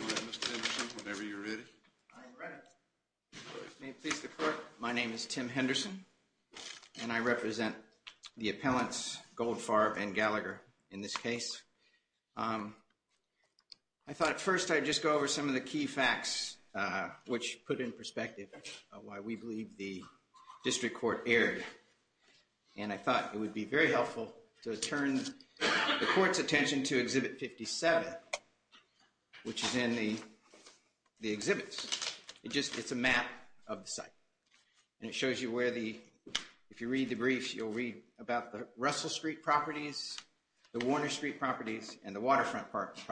Mr. Henderson, whenever you're ready. May it please the court, my name is Tim Henderson and I represent the appellants Goldfarb and Gallagher in this case. I thought at first I'd just go over some of the key facts which put in perspective why we believe the district court erred. And I thought it would be very helpful to turn the court's attention to Exhibit 57, which is in the exhibits. It's a map of the site. And it shows you where the, if you read the briefs, you'll read about the Russell Street properties, the Warner Street properties, and the Waterfront properties.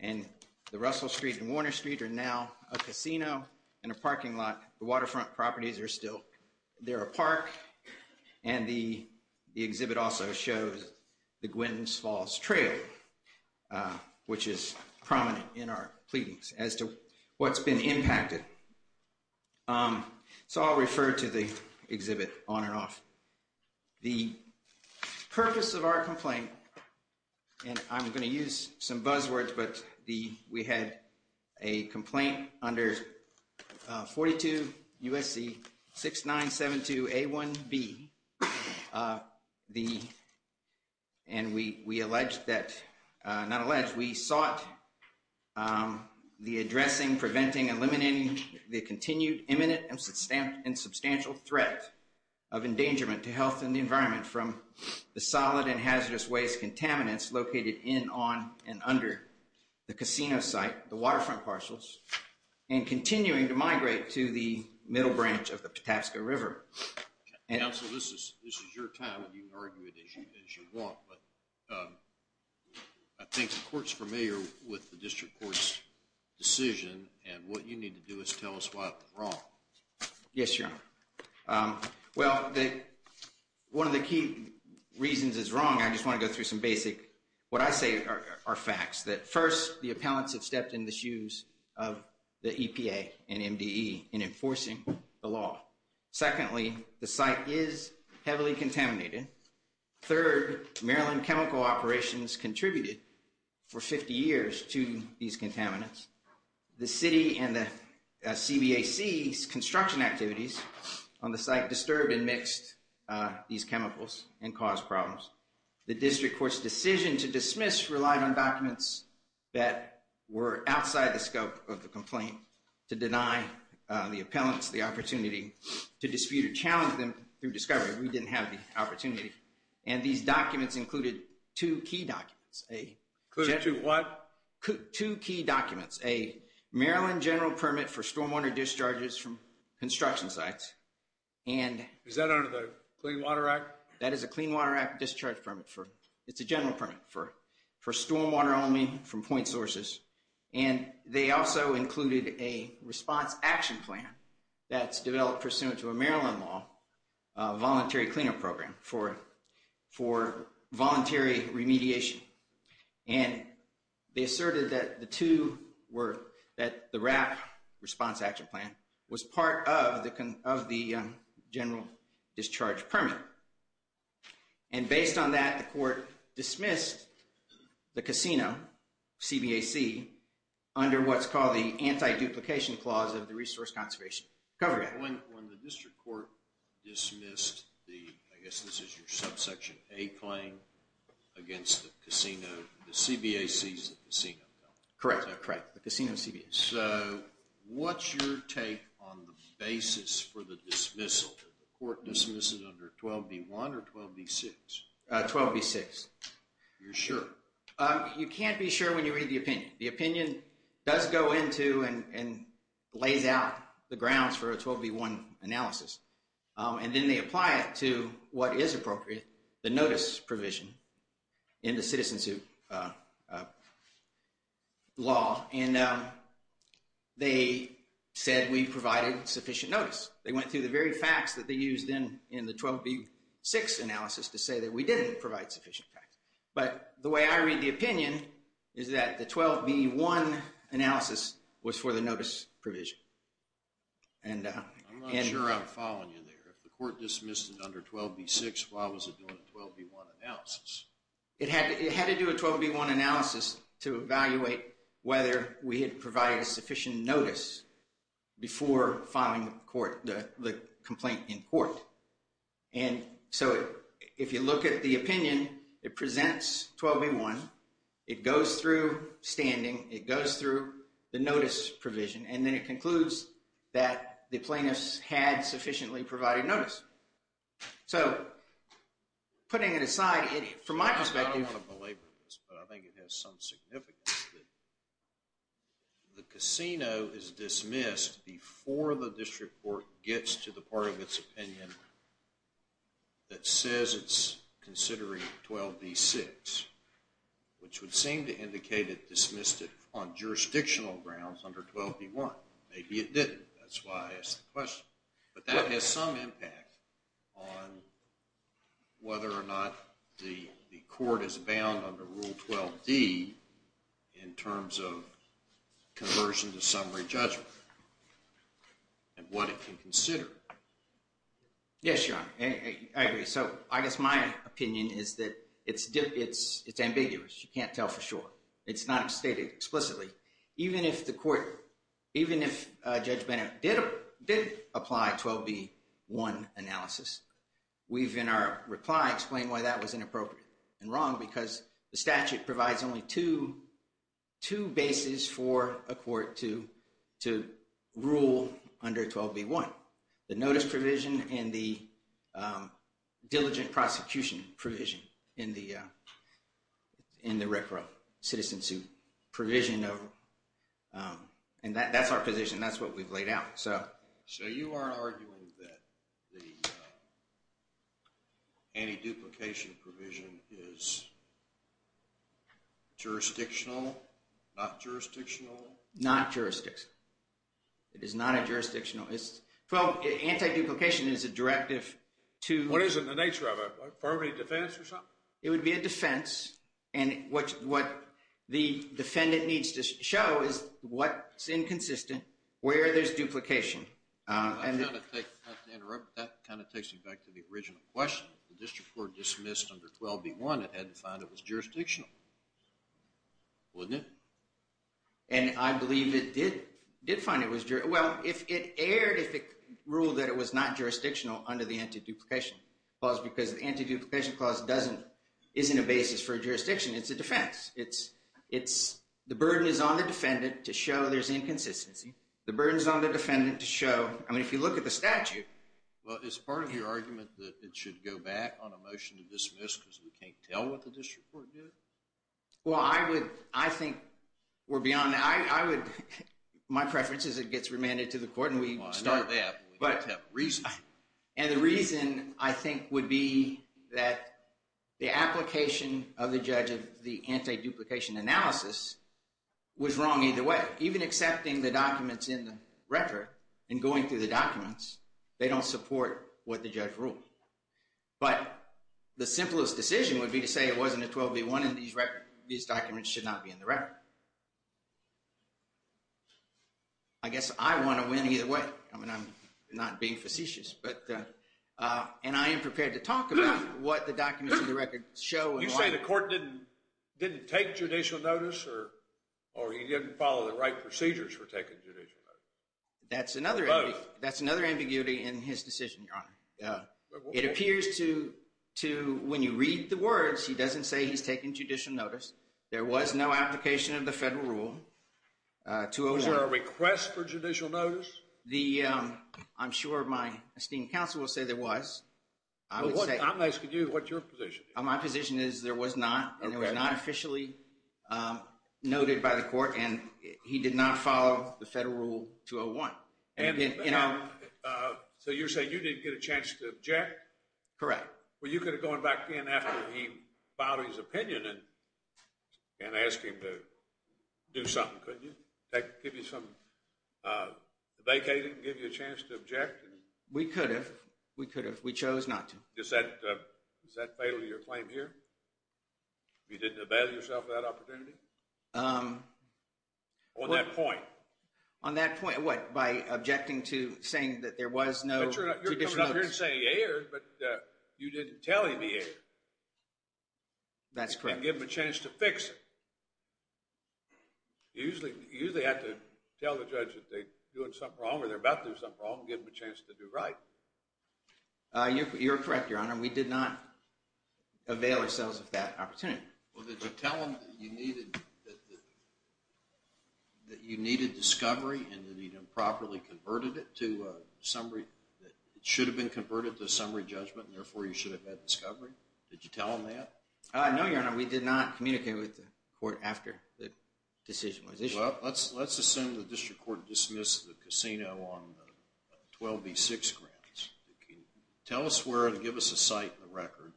And the Russell Street and Warner Street are now a casino and a parking lot. The Waterfront properties are still, they're a park. And the exhibit also shows the Gwens Falls Trail, which is prominent in our pleadings as to what's been impacted. So I'll refer to the exhibit on and off. The purpose of our complaint, and I'm going to use some buzzwords, but we had a complaint under 42 USC 6972A1B. And we alleged that, not alleged, we sought the addressing, preventing, eliminating the continued, imminent, and substantial threat of endangerment to health and the environment from the solid and hazardous waste contaminants located in, on, and under the casino site, the Waterfront parcels, and continuing to migrate to the middle branch of the Patapsco River. Counsel, this is your time, and you can argue it as you want. But I think the court's familiar with the district court's decision, and what you need to do is tell us why it was wrong. Yes, Your Honor. Well, one of the key reasons it's wrong, I just want to go through some basic, what I say are facts. That first, the appellants have stepped in the shoes of the EPA and MDE in enforcing the law. Secondly, the site is heavily contaminated. Third, Maryland Chemical Operations contributed for 50 years to these contaminants. The city and the CBAC's construction activities on the site disturbed and mixed these chemicals and caused problems. The district court's decision to dismiss relied on documents that were outside the scope of the complaint to deny the appellants the opportunity to dispute or challenge them through discovery. We didn't have the opportunity. And these documents included two key documents. Included two what? Two key documents. A Maryland general permit for stormwater discharges from construction sites. Is that under the Clean Water Act? That is a Clean Water Act discharge permit. It's a general permit for stormwater only from point sources. And they also included a response action plan that's developed pursuant to a Maryland law, a voluntary cleaner program for voluntary remediation. And they asserted that the two were, that the RAP response action plan was part of the general discharge permit. And based on that, the court dismissed the casino, CBAC, under what's called the anti-duplication clause of the Resource Conservation Cover Act. When the district court dismissed the, I guess this is your subsection A claim, against the casino, the CBAC is the casino, correct? Correct. The casino CBAC. So what's your take on the basis for the dismissal? Did the court dismiss it under 12B1 or 12B6? 12B6. You're sure? You can't be sure when you read the opinion. The opinion does go into and lays out the grounds for a 12B1 analysis. And then they apply it to what is appropriate, the notice provision in the citizen suit law. And they said we provided sufficient notice. They went through the very facts that they used in the 12B6 analysis to say that we didn't provide sufficient facts. But the way I read the opinion is that the 12B1 analysis was for the notice provision. I'm not sure I'm following you there. If the court dismissed it under 12B6, why was it doing a 12B1 analysis? It had to do a 12B1 analysis to evaluate whether we had provided sufficient notice before filing the complaint in court. And so if you look at the opinion, it presents 12B1. It goes through standing. It goes through the notice provision. And then it concludes that the plaintiffs had sufficiently provided notice. So, putting it aside, from my perspective... I don't want to belabor this, but I think it has some significance. The casino is dismissed before the district court gets to the part of its opinion that says it's considering 12B6, which would seem to indicate it dismissed it on jurisdictional grounds under 12B1. Maybe it didn't. That's why I asked the question. But that has some impact on whether or not the court is bound under Rule 12D in terms of conversion to summary judgment and what it can consider. Yes, Your Honor. I agree. So, I guess my opinion is that it's ambiguous. You can't tell for sure. It's not stated explicitly. Even if Judge Bennett did apply 12B1 analysis, we've in our reply explained why that was inappropriate and wrong because the statute provides only two bases for a court to rule under 12B1. The notice provision and the diligent prosecution provision in the RECRA citizenship provision. And that's our position. That's what we've laid out. So, you are arguing that the anti-duplication provision is jurisdictional, not jurisdictional? Not jurisdictional. It is not a jurisdictional. Well, anti-duplication is a directive to... What is it? The nature of it? Affirmative defense or something? It would be a defense. And what the defendant needs to show is what's inconsistent, where there's duplication. I'm going to take, not to interrupt, but that kind of takes me back to the original question. If the district court dismissed under 12B1, it had to find it was jurisdictional. Wouldn't it? And I believe it did find it was jurisdictional. Well, it erred if it ruled that it was not jurisdictional under the anti-duplication clause because the anti-duplication clause isn't a basis for jurisdiction. It's a defense. The burden is on the defendant to show there's inconsistency. The burden is on the defendant to show... I mean, if you look at the statute... Well, is part of your argument that it should go back on a motion to dismiss because we can't tell what the district court did? Well, I would... I think we're beyond... I would... My preference is it gets remanded to the court and we start... Well, I know that, but we have to have reason. And the reason, I think, would be that the application of the judge of the anti-duplication analysis was wrong either way. Even accepting the documents in the record and going through the documents, they don't support what the judge ruled. But the simplest decision would be to say it wasn't a 12B1 in these records. These documents should not be in the record. I guess I want to win either way. I mean, I'm not being facetious, but... And I am prepared to talk about what the documents in the record show and why... You're saying the court didn't take judicial notice or he didn't follow the right procedures for taking judicial notice? That's another ambiguity in his decision, Your Honor. It appears to... When you read the words, he doesn't say he's taking judicial notice. There was no application of the federal rule. Was there a request for judicial notice? I'm sure my esteemed counsel will say there was. I'm asking you what your position is. My position is there was not and it was not officially noted by the court and he did not follow the federal rule 201. So you're saying you didn't get a chance to object? Correct. Well, you could have gone back in after he filed his opinion and asked him to do something, couldn't you? Give you some vacating, give you a chance to object? We could have. We could have. We chose not to. Is that fatal to your claim here? You didn't avail yourself of that opportunity? On that point? On that point, what, by objecting to saying that there was no judicial notice? But you're not here to say he erred, but you didn't tell him he erred. That's correct. And give him a chance to fix it. You usually have to tell the judge that they're doing something wrong or they're about to do something wrong and give them a chance to do right. You're correct, Your Honor. We did not avail ourselves of that opportunity. Well, did you tell him that you needed discovery and that he'd improperly converted it to a summary, that it should have been converted to a summary judgment and therefore you should have had discovery? Did you tell him that? No, Your Honor. We did not communicate with the court after the decision was issued. Well, let's assume the district court dismissed the casino on the 12B6 grounds. Tell us where and give us a site and a record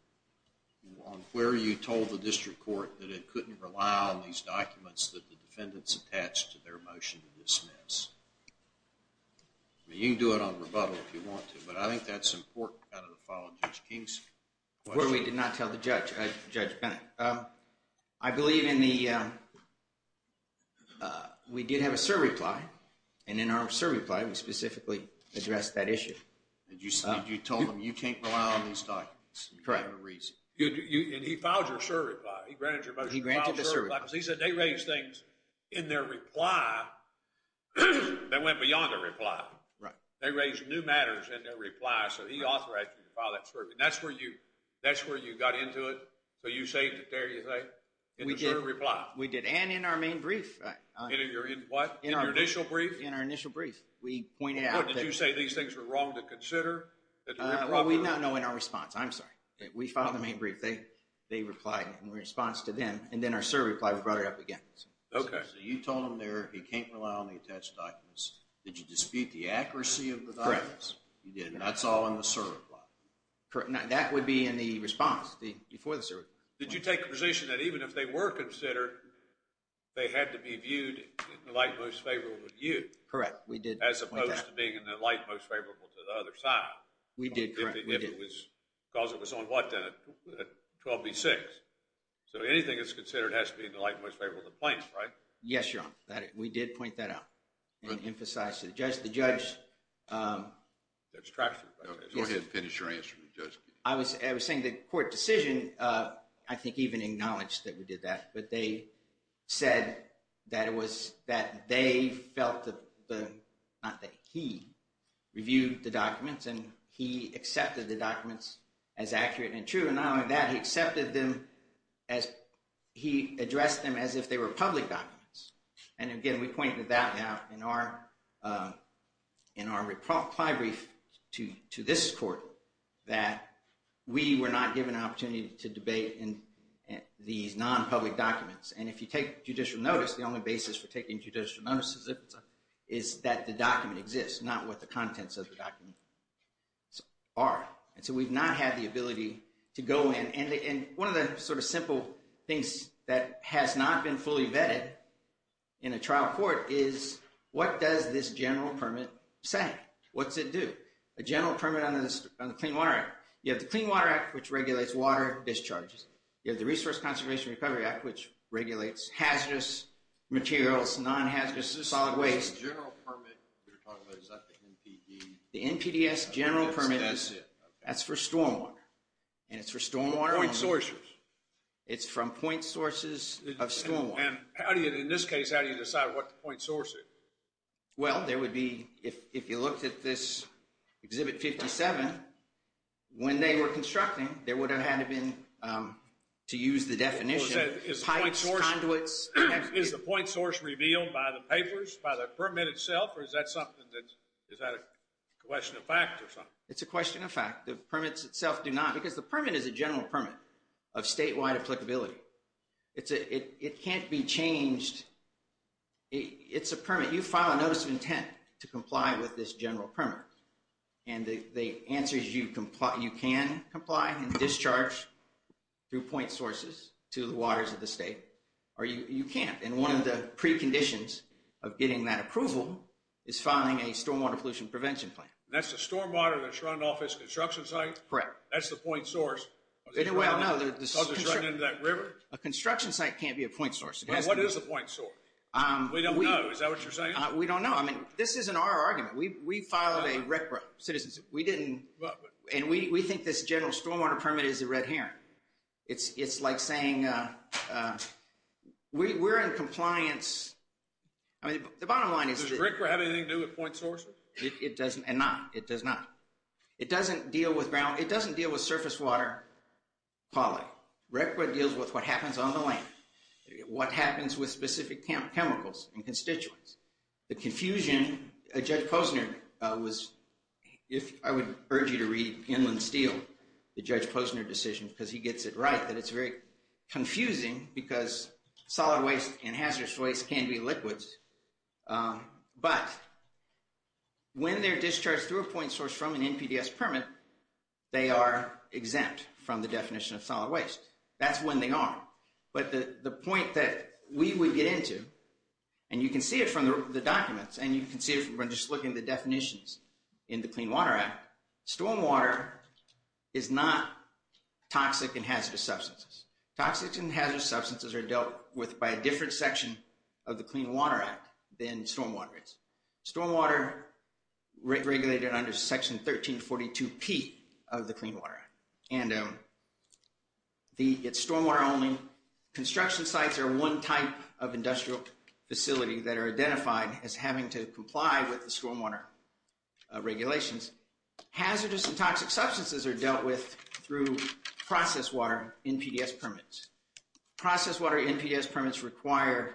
on where you told the district court that it couldn't rely on these documents that the defendants attached to their motion to dismiss. You can do it on rebuttal if you want to, but I think that's important out of the file of Judge Kingsley. Where we did not tell the judge, Judge Bennett. I believe in the, we did have a survey ply, and in our survey ply we specifically addressed that issue. You told him you can't rely on these documents. Correct. And he filed your survey ply. He granted your motion. He granted the survey ply. He said they raised things in their reply that went beyond the reply. Right. They raised new matters in their reply, so he authorized you to file that survey. That's where you got into it, so you saved it there, you say, in the survey ply. We did, and in our main brief. In your what? In your initial brief? In our initial brief, we pointed out that you say these things were wrong to consider. Well, we now know in our response. I'm sorry. We filed the main brief. They replied in response to them, and then our survey ply, we brought it up again. Okay. So you told him there he can't rely on the attached documents. Did you dispute the accuracy of the documents? Correct. You did, and that's all in the survey ply. That would be in the response, before the survey ply. Did you take the position that even if they were considered, they had to be viewed in the light most favorable of you? Correct. As opposed to being in the light most favorable to the other side. We did, correct. Because it was on what then? 12B6. So anything that's considered has to be in the light most favorable to the plaintiff, right? Yes, Your Honor. We did point that out and emphasize to the judge. The judge… Go ahead and finish your answer. I was saying the court decision, I think even acknowledged that we did that, but they said that it was that they felt, not that he reviewed the documents, and he accepted the documents as accurate and true. And not only that, he accepted them as he addressed them as if they were public documents. And again, we pointed that out in our reply brief to this court, that we were not given an opportunity to debate these non-public documents. And if you take judicial notice, the only basis for taking judicial notice is that the document exists, not what the contents of the document are. And so we've not had the ability to go in. And one of the sort of simple things that has not been fully vetted in a trial court is, what does this general permit say? What's it do? A general permit on the Clean Water Act. You have the Clean Water Act, which regulates water discharges. You have the Resource Conservation Recovery Act, which regulates hazardous materials, non-hazardous to solid waste. The general permit you're talking about, is that the NPD? The NPDS general permit, that's for stormwater. And it's for stormwater… Point sources. It's from point sources of stormwater. And how do you, in this case, how do you decide what the point source is? Well, there would be, if you looked at this Exhibit 57, when they were constructing, there would have had to have been, to use the definition, pipes, conduits. Is the point source revealed by the papers, by the permit itself, or is that something that, is that a question of fact or something? It's a question of fact. The permits itself do not, because the permit is a general permit of statewide applicability. It can't be changed. It's a permit. You file a notice of intent to comply with this general permit. And the answer is you can comply and discharge through point sources to the waters of the state. Or you can't. And one of the preconditions of getting that approval is filing a stormwater pollution prevention plan. That's the stormwater that's run off its construction site? Correct. That's the point source? Well, no. It's running into that river? A construction site can't be a point source. Well, what is a point source? We don't know. Is that what you're saying? We don't know. I mean, this isn't our argument. We filed a RCRA citizenship. We didn't. And we think this general stormwater permit is a red herring. It's like saying we're in compliance. I mean, the bottom line is that. Does RCRA have anything to do with point sources? It doesn't. And not. It does not. It doesn't deal with surface water quality. RCRA deals with what happens on the land. What happens with specific chemicals and constituents. The confusion, Judge Posner was, if I would urge you to read Inland Steel, the Judge Posner decision, because he gets it right, that it's very confusing because solid waste and hazardous waste can be liquids. But when they're discharged through a point source from an NPDES permit, they are exempt from the definition of solid waste. That's when they are. But the point that we would get into, and you can see it from the documents, and you can see it from just looking at the definitions in the Clean Water Act, stormwater is not toxic and hazardous substances. Toxic and hazardous substances are dealt with by a different section of the Clean Water Act than stormwater is. Stormwater regulated under Section 1342P of the Clean Water Act. And it's stormwater only. Construction sites are one type of industrial facility that are identified as having to comply with the stormwater regulations. Hazardous and toxic substances are dealt with through process water NPDES permits. Process water NPDES permits require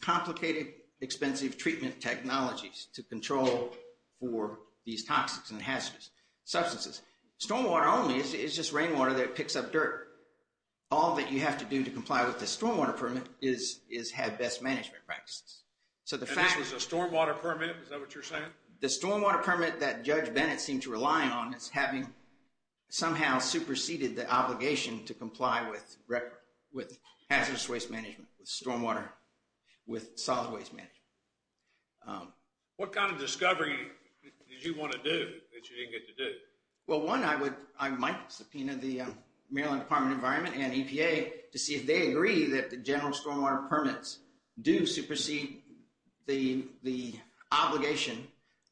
complicated, expensive treatment technologies to control for these toxic and hazardous substances. Stormwater only is just rainwater that picks up dirt. All that you have to do to comply with the stormwater permit is have best management practices. And this was a stormwater permit? Is that what you're saying? The stormwater permit that Judge Bennett seemed to rely on is having somehow superseded the obligation to comply with hazardous waste management, with stormwater, with solid waste management. What kind of discovery did you want to do that you didn't get to do? Well, one, I might subpoena the Maryland Department of Environment and EPA to see if they agree that the general stormwater permits do supersede the obligation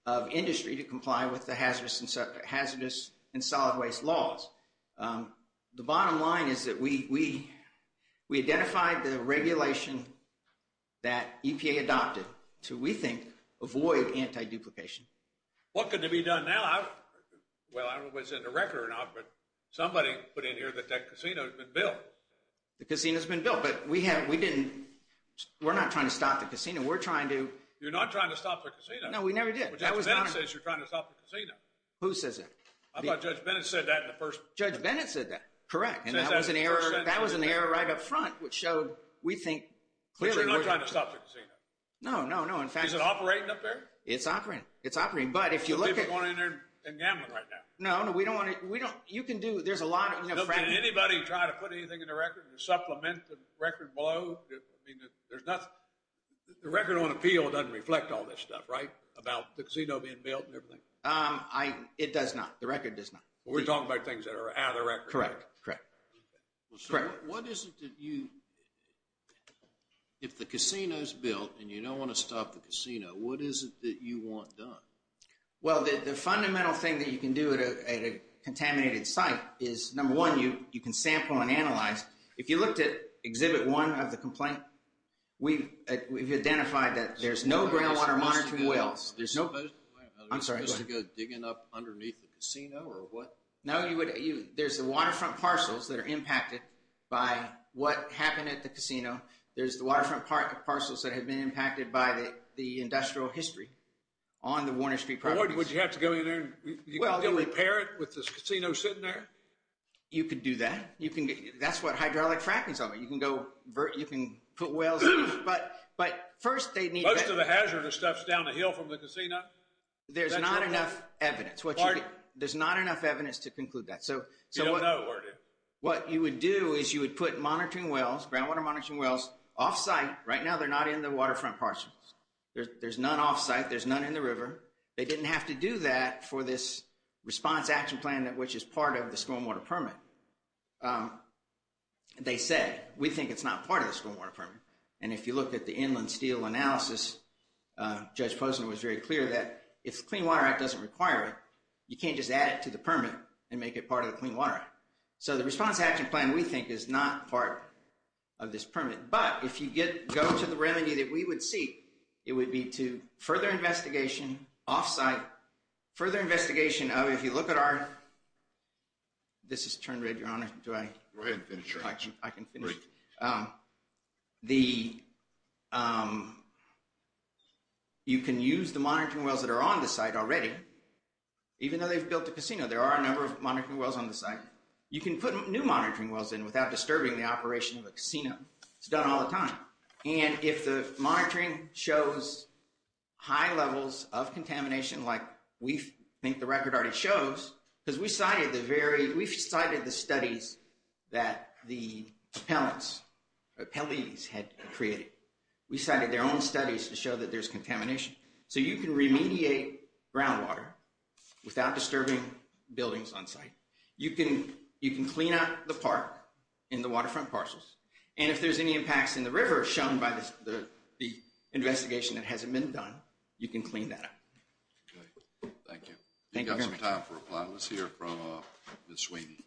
of industry to comply with the hazardous and solid waste laws. The bottom line is that we identified the regulation that EPA adopted to, we think, avoid anti-duplication. What could be done now? Well, I don't know if it's in the record or not, but somebody put in here that that casino's been built. The casino's been built, but we're not trying to stop the casino. We're trying to... You're not trying to stop the casino? No, we never did. But Judge Bennett says you're trying to stop the casino. Who says that? I thought Judge Bennett said that in the first... Judge Bennett said that, correct, and that was an error right up front, which showed, we think, clearly... But you're not trying to stop the casino? No, no, no, in fact... Is it operating up there? It's operating, it's operating, but if you look at... So people are going in there and gambling right now? No, no, we don't want to, we don't, you can do, there's a lot of... Can anybody try to put anything in the record, supplement the record below? I mean, there's nothing, the record on appeal doesn't reflect all this stuff, right? About the casino being built and everything. It does not, the record does not. We're talking about things that are out of the record. Correct, correct. What is it that you... If the casino's built and you don't want to stop the casino, what is it that you want done? Well, the fundamental thing that you can do at a contaminated site is, number one, you can sample and analyze. If you looked at Exhibit 1 of the complaint, we've identified that there's no groundwater monitoring wells. There's no... I'm sorry, go ahead. Are we supposed to go digging up underneath the casino or what? No, you would, there's the waterfront parcels that are impacted by what happened at the casino. There's the waterfront parcels that have been impacted by the industrial history on the Warner Street properties. Would you have to go in there and repair it with the casino sitting there? You could do that. You can get, that's what hydraulic fracking's all about. You can go, you can put wells in, but first they need... The rest of the hazardous stuff's down the hill from the casino? There's not enough evidence. There's not enough evidence to conclude that. You don't know where it is. What you would do is you would put monitoring wells, groundwater monitoring wells, off-site. Right now they're not in the waterfront parcels. There's none off-site. There's none in the river. They didn't have to do that for this response action plan, which is part of the school and water permit. They said, we think it's not part of the school and water permit. And if you look at the inland steel analysis, Judge Posner was very clear that if the Clean Water Act doesn't require it, you can't just add it to the permit and make it part of the Clean Water Act. So the response action plan we think is not part of this permit. But if you go to the remedy that we would seek, it would be to further investigation off-site, further investigation of, if you look at our... This is turned red, Your Honor. Do I... Go ahead and finish. I can finish. The... You can use the monitoring wells that are on the site already, even though they've built a casino. There are a number of monitoring wells on the site. You can put new monitoring wells in without disturbing the operation of a casino. It's done all the time. And if the monitoring shows high levels of contamination, like we think the record already shows, because we cited the studies that the appellants, the appellees had created. We cited their own studies to show that there's contamination. So you can remediate groundwater without disturbing buildings on site. You can clean up the park and the waterfront parcels. And if there's any impacts in the river shown by the investigation that hasn't been done, you can clean that up. Thank you. We've got some time for reply. Let's hear from Ms. Sweeney.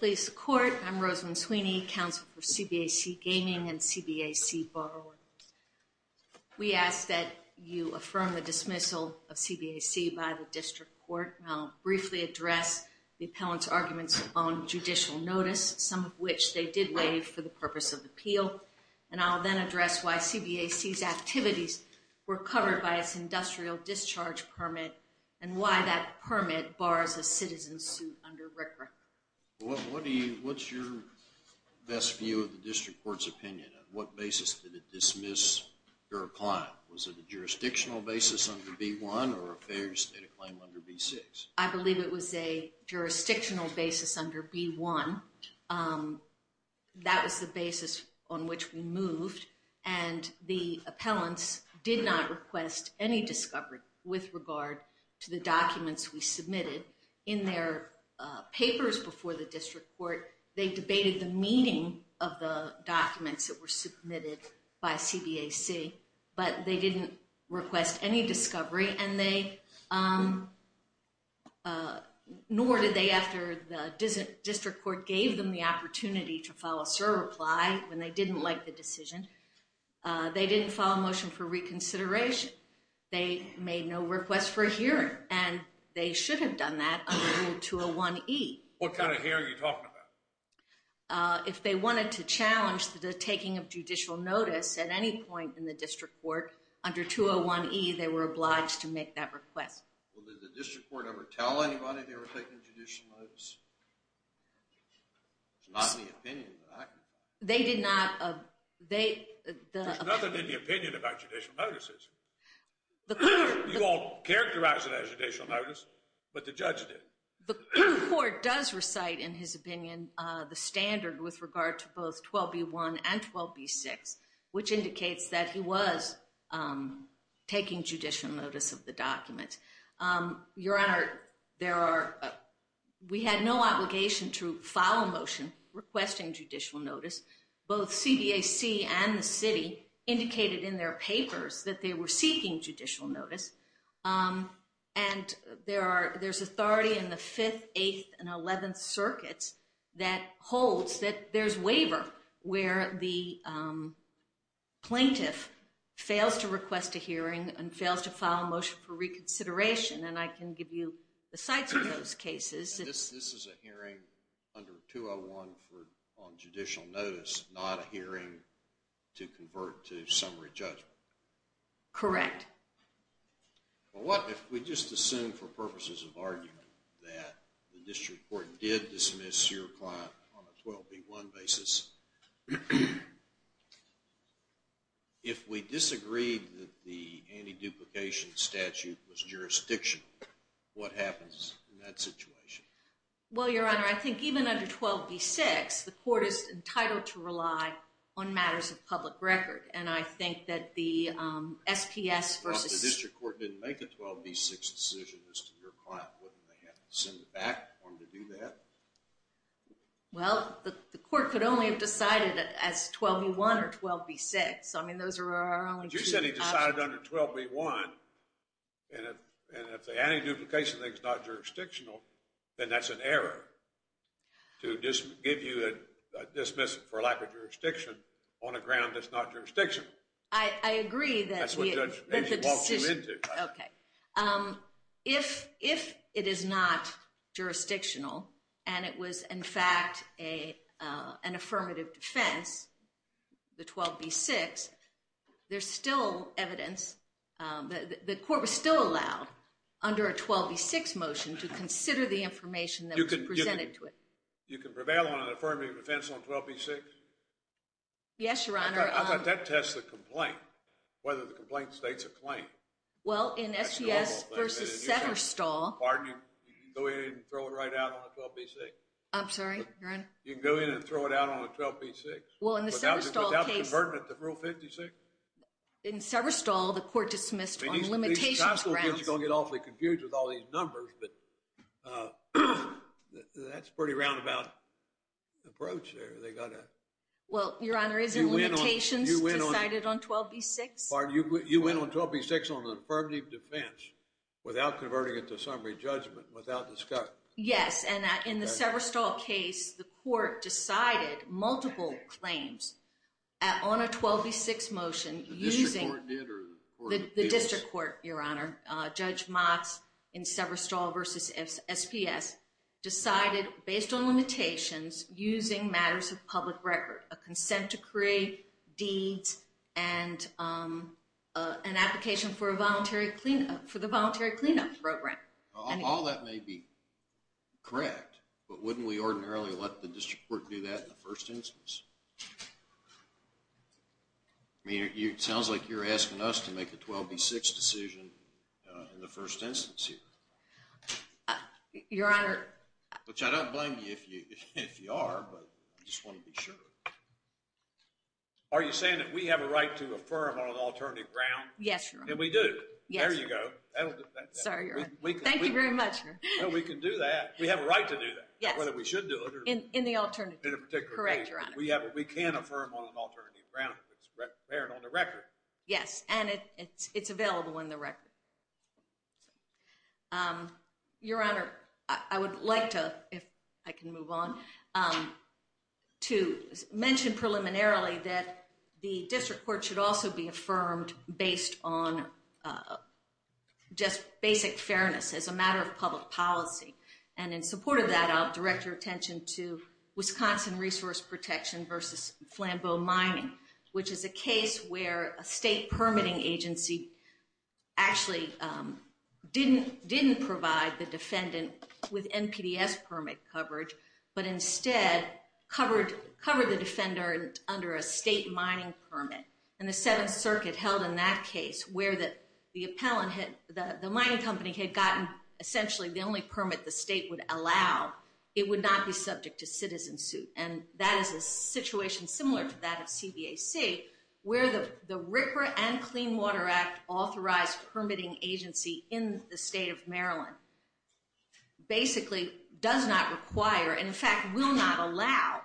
I'm Rosalyn Sweeney, Counsel for CBAC Gaming and CBAC Borrowers. We ask that you affirm the dismissal of CBAC by the district court. I'll briefly address the appellant's arguments on judicial notice, some of which they did waive for the purpose of appeal. And I'll then address why CBAC's activities were covered by its industrial discharge permit, and why that permit bars a citizen suit under RCRA. What's your best view of the district court's opinion? On what basis did it dismiss your client? Was it a jurisdictional basis under B-1, or a failure state of claim under B-6? I believe it was a jurisdictional basis under B-1. That was the basis on which we moved. And the appellants did not request any discovery with regard to the documents we submitted. In their papers before the district court, they debated the meaning of the documents that were submitted by CBAC. But they didn't request any discovery, nor did they after the district court gave them the opportunity to file a SIR reply when they didn't like the decision. They didn't file a motion for reconsideration. And they should have done that under Rule 201E. What kind of hearing are you talking about? If they wanted to challenge the taking of judicial notice at any point in the district court, under 201E, they were obliged to make that request. Well, did the district court ever tell anybody they were taking judicial notice? It's not in the opinion that I can find. They did not. There's nothing in the opinion about judicial notices. You all characterized it as judicial notice, but the judge didn't. The court does recite, in his opinion, the standard with regard to both 12B-1 and 12B-6, which indicates that he was taking judicial notice of the documents. Your Honor, we had no obligation to file a motion requesting judicial notice. Both CBAC and the city indicated in their papers that they were seeking judicial notice. And there's authority in the 5th, 8th, and 11th circuits that holds that there's waiver where the plaintiff fails to request a hearing and fails to file a motion for reconsideration. And I can give you the sites of those cases. And this is a hearing under 201 on judicial notice, not a hearing to convert to summary judgment? Correct. Well, what if we just assume for purposes of argument that the district court did dismiss your client on a 12B-1 basis? If we disagreed that the anti-duplication statute was jurisdictional, what happens in that situation? Well, Your Honor, I think even under 12B-6, the court is entitled to rely on matters of public record. And I think that the SPS versus… If the district court didn't make a 12B-6 decision as to your client, wouldn't they have to send it back for him to do that? Well, the court could only have decided as 12B-1 or 12B-6. I mean, those are our only two options. You said he decided under 12B-1. And if the anti-duplication thing is not jurisdictional, then that's an error. To give you a dismissal for a lack of jurisdiction on a ground that's not jurisdictional. I agree that we… That's what Judge Macy walked you into. Okay. If it is not jurisdictional and it was, in fact, an affirmative defense, the 12B-6, there's still evidence… The court was still allowed, under a 12B-6 motion, to consider the information that was presented to it. You can prevail on an affirmative defense on 12B-6? Yes, Your Honor. How about that tests the complaint, whether the complaint states a claim? Well, in SPS versus Setterstall… Pardon me? You can go in and throw it right out on a 12B-6? I'm sorry, Your Honor? You can go in and throw it out on a 12B-6? Well, in the Setterstall case… Without converting it to Rule 56? In Setterstall, the court dismissed on limitations grounds… These guys are going to get awfully confused with all these numbers, but that's a pretty roundabout approach there. They got a… Well, Your Honor, isn't limitations decided on 12B-6? Pardon? You went on 12B-6 on an affirmative defense without converting it to summary judgment, without discussion? Yes, and in the Setterstall case, the court decided multiple claims on a 12B-6 motion using… The district court did? The district court, Your Honor. Judge Motz in Setterstall versus SPS decided, based on limitations, using matters of public record. A consent decree, deeds, and an application for the voluntary cleanup program. All that may be correct, but wouldn't we ordinarily let the district court do that in the first instance? I mean, it sounds like you're asking us to make a 12B-6 decision in the first instance here. Your Honor… Which I don't blame you if you are, but I just want to be sure. Are you saying that we have a right to affirm on an alternative ground? Yes, Your Honor. And we do? Yes. There you go. Sorry, Your Honor. Thank you very much. No, we can do that. We have a right to do that. Yes. Whether we should do it or… In the alternative. In a particular case. Correct, Your Honor. We can affirm on an alternative ground if it's prepared on the record. Yes, and it's available on the record. Your Honor, I would like to, if I can move on, to mention preliminarily that the district court should also be affirmed based on just basic fairness as a matter of public policy. And in support of that, I'll direct your attention to Wisconsin Resource Protection v. Flambeau Mining, which is a case where a state permitting agency actually didn't provide the defendant with NPDES permit coverage, but instead covered the defender under a state mining permit. And the Seventh Circuit held in that case where the mining company had gotten essentially the only permit the state would allow, it would not be subject to citizen suit. And that is a situation similar to that of CBAC, where the RCRA and Clean Water Act authorized permitting agency in the state of Maryland basically does not require, and in fact will not allow,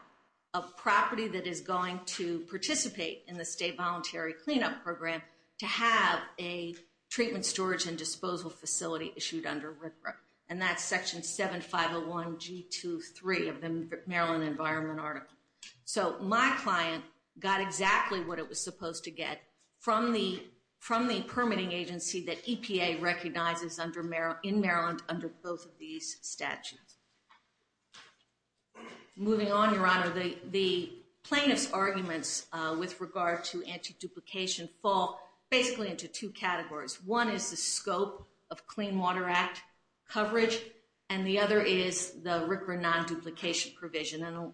a property that is going to participate in the state voluntary cleanup program to have a treatment storage and disposal facility issued under RCRA. And that's Section 7501G23 of the Maryland Environment Article. So my client got exactly what it was supposed to get from the permitting agency that EPA recognizes in Maryland under both of these statutes. Moving on, Your Honor, the plaintiff's arguments with regard to anti-duplication fall basically into two categories. One is the scope of Clean Water Act coverage, and the other is the RCRA non-duplication provision. And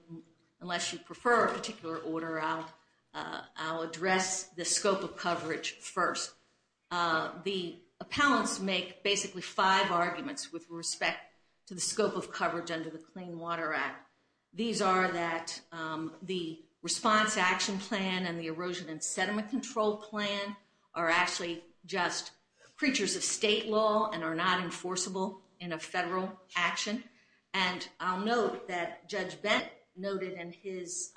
unless you prefer a particular order, I'll address the scope of coverage first. The appellants make basically five arguments with respect to the scope of coverage under the Clean Water Act. These are that the response action plan and the erosion and sediment control plan are actually just creatures of state law and are not enforceable in a federal action. And I'll note that Judge Bent noted in his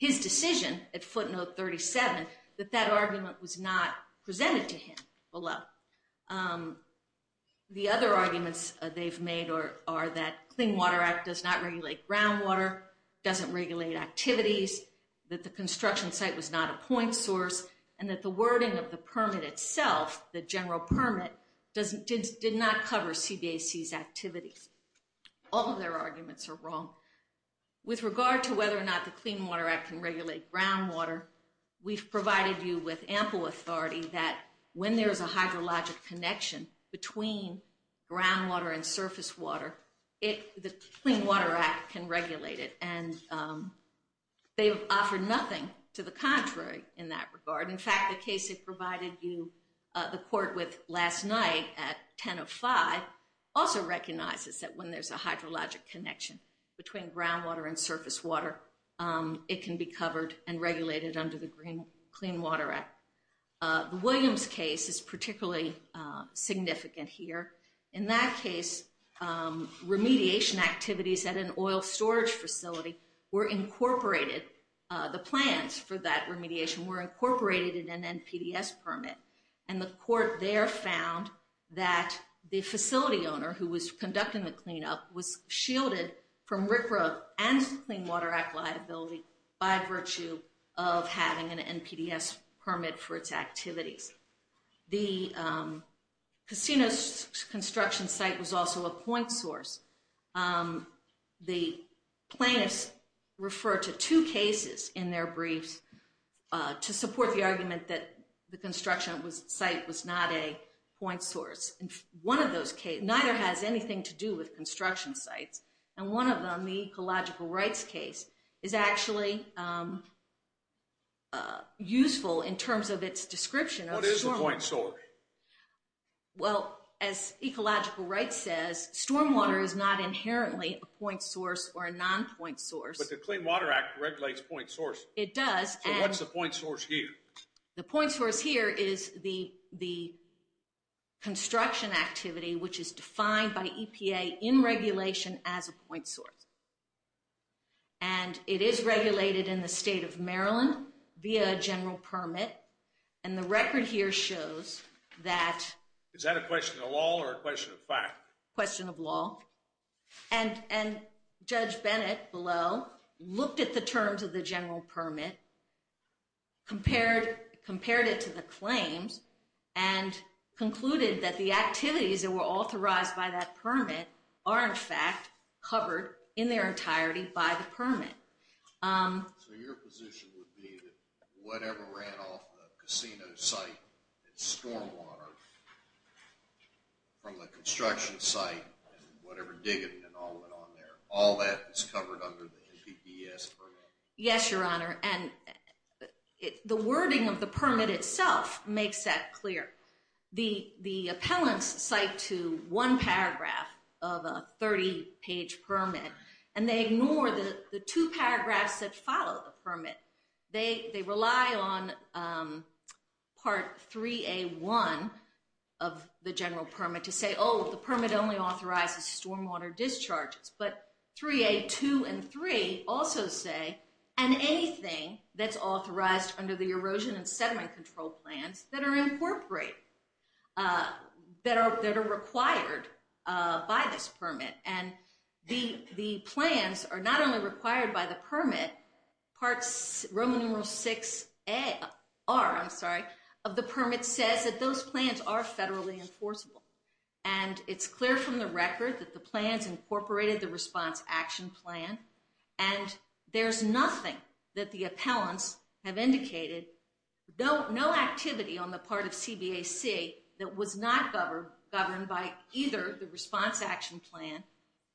decision at footnote 37 that that argument was not presented to him below. The other arguments they've made are that Clean Water Act does not regulate groundwater, doesn't regulate activities, that the construction site was not a point source, and that the wording of the permit itself, the general permit, did not cover CBAC's activities. All of their arguments are wrong. With regard to whether or not the Clean Water Act can regulate groundwater, we've provided you with ample authority that when there's a hydrologic connection between groundwater and surface water, the Clean Water Act can regulate it. And they've offered nothing to the contrary in that regard. In fact, the case they provided you the court with last night at 10 of 5 also recognizes that when there's a hydrologic connection between groundwater and surface water, it can be covered and regulated under the Clean Water Act. The Williams case is particularly significant here. In that case, remediation activities at an oil storage facility were incorporated. The plans for that remediation were incorporated in an NPDES permit. And the court there found that the facility owner who was conducting the cleanup was shielded from RCRA and Clean Water Act liability by virtue of having an NPDES permit for its activities. The casino construction site was also a point source. The plaintiffs referred to two cases in their briefs to support the argument that the construction site was not a point source. And one of those cases, neither has anything to do with construction sites. And one of them, the ecological rights case, is actually useful in terms of its description. What is the point source? Well, as ecological rights says, stormwater is not inherently a point source or a non-point source. But the Clean Water Act regulates point source. It does. So what's the point source here? The point source here is the construction activity, which is defined by EPA in regulation as a point source. And it is regulated in the state of Maryland via a general permit. And the record here shows that... Is that a question of law or a question of fact? Question of law. And Judge Bennett, below, looked at the terms of the general permit, compared it to the claims, and concluded that the activities that were authorized by that permit are, in fact, covered in their entirety by the permit. So your position would be that whatever ran off the casino site and stormwater from the construction site and whatever dig it and all went on there, all that is covered under the NPPS permit? Yes, Your Honor. And the wording of the permit itself makes that clear. The appellants cite to one paragraph of a 30-page permit, and they ignore the two paragraphs that follow the permit. They rely on Part 3A1 of the general permit to say, oh, the permit only authorizes stormwater discharges. But 3A2 and 3 also say, and anything that's authorized under the erosion and sediment control plans that are incorporated, that are required by this permit. And the plans are not only required by the permit. Roman numeral 6R of the permit says that those plans are federally enforceable. And it's clear from the record that the plans incorporated the response action plan. And there's nothing that the appellants have indicated, no activity on the part of CBAC, that was not governed by either the response action plan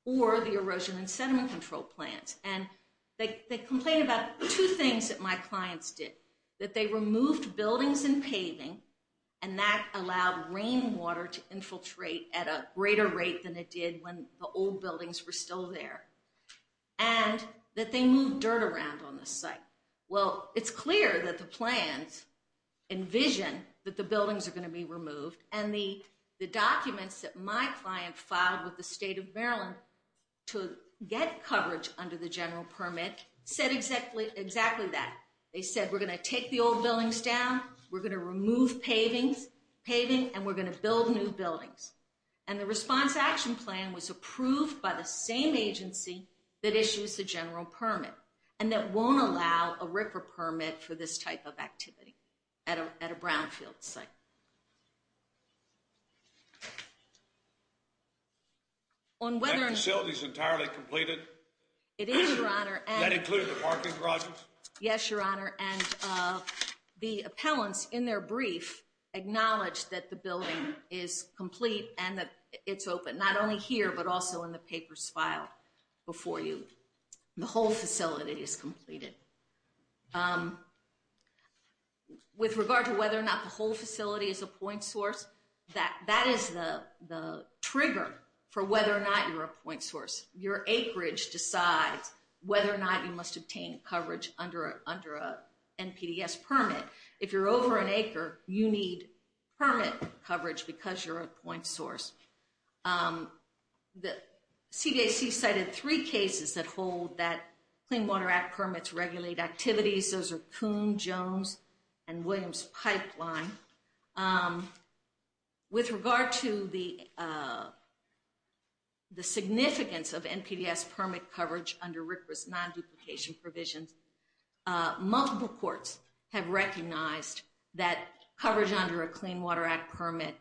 or the erosion and sediment control plans. And they complain about two things that my clients did, that they removed buildings and paving, and that allowed rainwater to infiltrate at a greater rate than it did when the old buildings were still there, and that they moved dirt around on the site. Well, it's clear that the plans envision that the buildings are going to be removed, and the documents that my client filed with the state of Maryland to get coverage under the general permit said exactly that. They said, we're going to take the old buildings down, we're going to remove paving, and we're going to build new buildings. And the response action plan was approved by the same agency that issues the general permit, and that won't allow a RIFRA permit for this type of activity at a brownfield site. That facility is entirely completed? It is, Your Honor. That includes the parking garages? Yes, Your Honor. And the appellants in their brief acknowledged that the building is complete and that it's open, not only here but also in the papers filed before you. The whole facility is completed. With regard to whether or not the whole facility is a point source, that is the trigger for whether or not you're a point source. Your acreage decides whether or not you must obtain coverage under an NPDES permit. If you're over an acre, you need permit coverage because you're a point source. The CDAC cited three cases that hold that Clean Water Act permits regulate activities. Those are Coon, Jones, and Williams Pipeline. With regard to the significance of NPDES permit coverage under RIFRA's non-duplication provisions, multiple courts have recognized that coverage under a Clean Water Act permit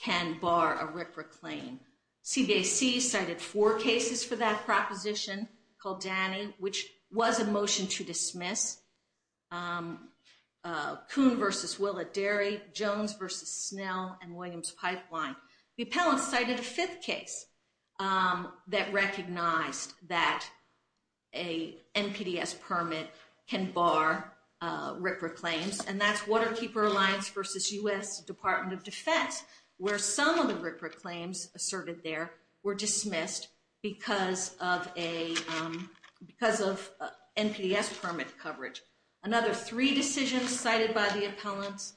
can bar a RIFRA claim. CDAC cited four cases for that proposition called Danny, which was a motion to dismiss. Coon v. Willa Derry, Jones v. Snell, and Williams Pipeline. The appellants cited a fifth case that recognized that an NPDES permit can bar RIFRA claims, and that's Waterkeeper Alliance v. U.S. Department of Defense, where some of the RIFRA claims asserted there were dismissed because of NPDES permit coverage. Another three decisions cited by the appellants,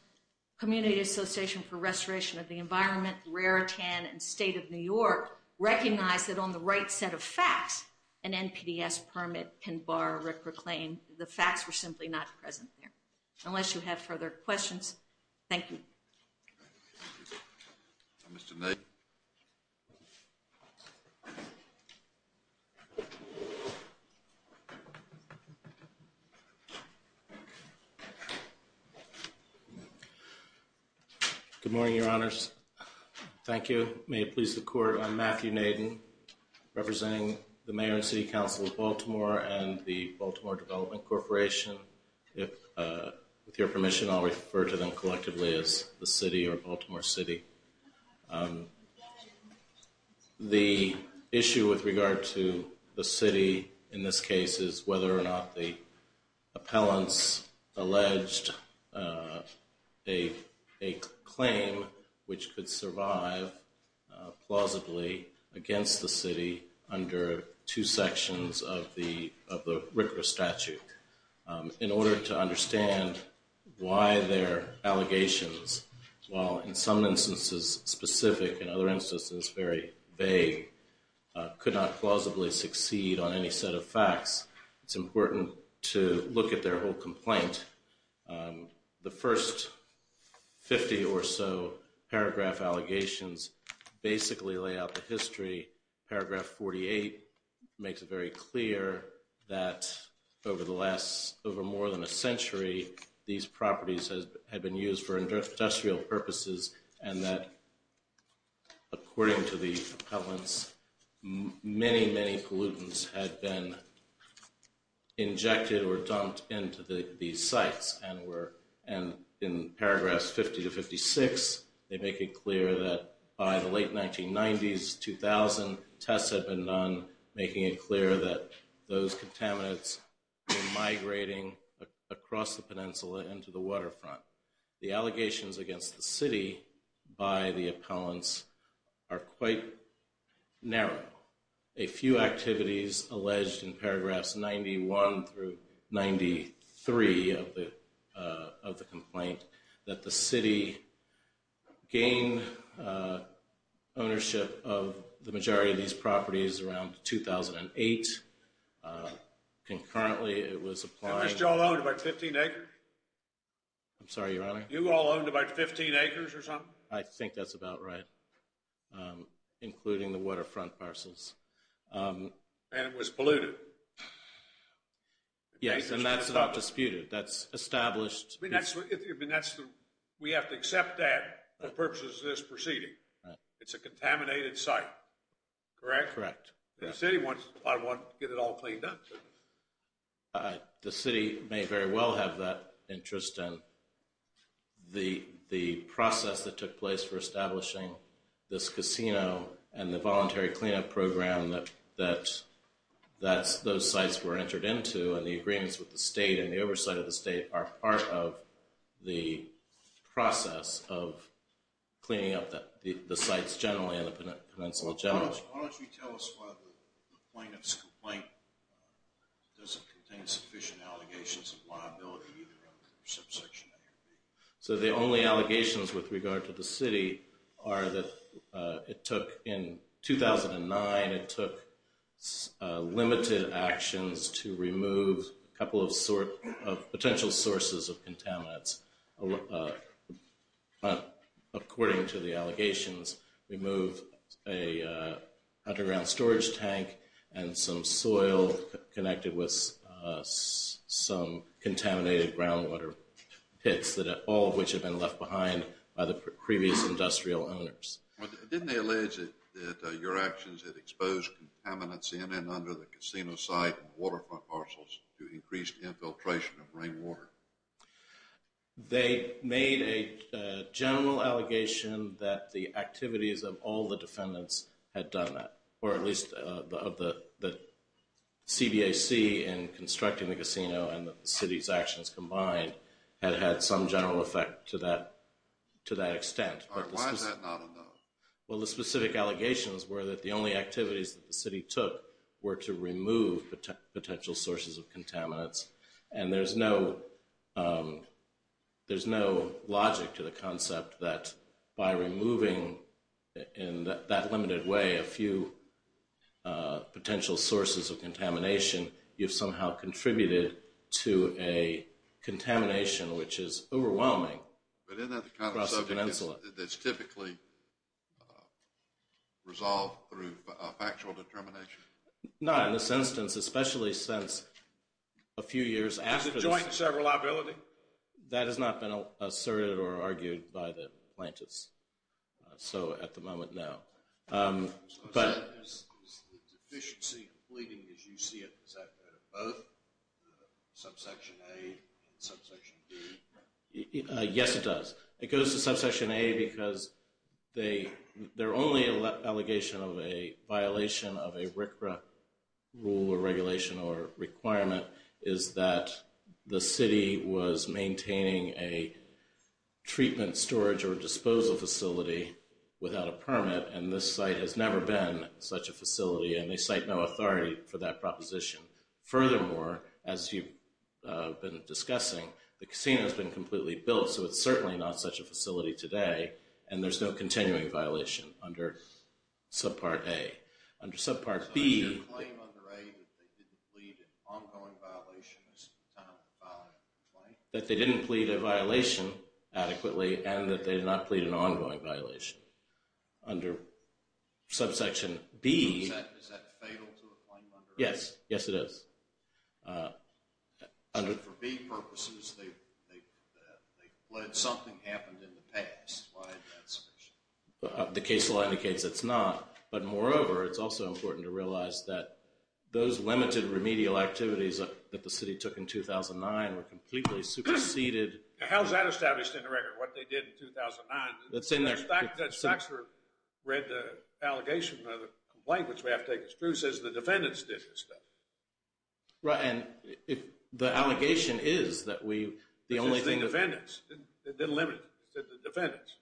Community Association for Restoration of the Environment, Raritan, and State of New York, recognized that on the right set of facts, an NPDES permit can bar a RIFRA claim. The facts were simply not present there. Unless you have further questions, thank you. Good morning, Your Honors. Thank you. May it please the Court, I'm Matthew Naden, representing the Mayor and City Council of Baltimore and the Baltimore Development Corporation. If, with your permission, I'll refer to them collectively as the city or Baltimore City. The issue with regard to the city in this case is whether or not the appellant alleged a claim which could survive plausibly against the city under two sections of the RIFRA statute. In order to understand why their allegations, while in some instances specific, in other instances very vague, could not plausibly succeed on any set of facts, it's important to look at their whole complaint. The first 50 or so paragraph allegations basically lay out the history. Paragraph 48 makes it very clear that over more than a century, these properties had been used for industrial purposes, and that according to the appellants, many, many pollutants had been injected or dumped into these sites. And in paragraphs 50 to 56, they make it clear that by the late 1990s, 2000, tests had been done, making it clear that those contaminants were migrating across the peninsula into the waterfront. The allegations against the city by the appellants are quite narrow. A few activities alleged in paragraphs 91 through 93 of the complaint, that the city gained ownership of the majority of these properties around 2008. Concurrently, it was applying... At least you all owned about 15 acres? I'm sorry, Your Honor? You all owned about 15 acres or something? I think that's about right, including the waterfront parcels. And it was polluted. Yes, and that's not disputed. That's established. We have to accept that for purposes of this proceeding. It's a contaminated site, correct? Correct. The city wants to get it all cleaned up. The city may very well have that interest in the process that took place for establishing this casino and the voluntary cleanup program that those sites were entered into. And the agreements with the state and the oversight of the state are part of the process of cleaning up the sites generally and the peninsula generally. Why don't you tell us why the plaintiff's complaint doesn't contain sufficient allegations of liability either under subsection A or B? So the only allegations with regard to the city are that it took, in 2009, it took limited actions to remove a couple of potential sources of contaminants. According to the allegations, remove an underground storage tank and some soil connected with some contaminated groundwater pits, all of which had been left behind by the previous industrial owners. Didn't they allege that your actions had exposed contaminants in and under the casino site and waterfront parcels to increased infiltration of rainwater? They made a general allegation that the activities of all the defendants had done that, or at least that CBAC in constructing the casino and the city's actions combined had had some general effect to that extent. All right, why is that not a no? Well, the specific allegations were that the only activities that the city took were to remove potential sources of contaminants. And there's no logic to the concept that by removing in that limited way a few potential sources of contamination, you've somehow contributed to a contamination which is overwhelming across the peninsula. But isn't that the kind of subject that's typically resolved through factual determination? Not in this instance, especially since a few years after this. Is it joint and several liability? That has not been asserted or argued by the plaintiffs. So, at the moment, no. Is the deficiency completing as you see it? Does that go to both subsection A and subsection B? Yes, it does. It goes to subsection A because their only allegation of a violation of a RCRA rule or regulation or requirement is that the city was maintaining a treatment storage or disposal facility without a permit, and this site has never been such a facility, and they cite no authority for that proposition. Furthermore, as you've been discussing, the casino has been completely built, so it's certainly not such a facility today, and there's no continuing violation under subpart A. Under subpart B... So, is your claim under A that they didn't plead an ongoing violation as to the time of the violation? That they didn't plead a violation adequately and that they did not plead an ongoing violation. Under subsection B... Is that fatal to a claim under A? Yes, yes it is. So, for B purposes, they pled something happened in the past. Why is that sufficient? The case law indicates it's not, but moreover, it's also important to realize that those limited remedial activities that the city took in 2009 were completely superseded. How's that established in the record, what they did in 2009? That's in there. The facts were read the allegation of the complaint, which we have to take as true, just as the defendants did this stuff. Right, and the allegation is that we... The defendants didn't limit it, the defendants.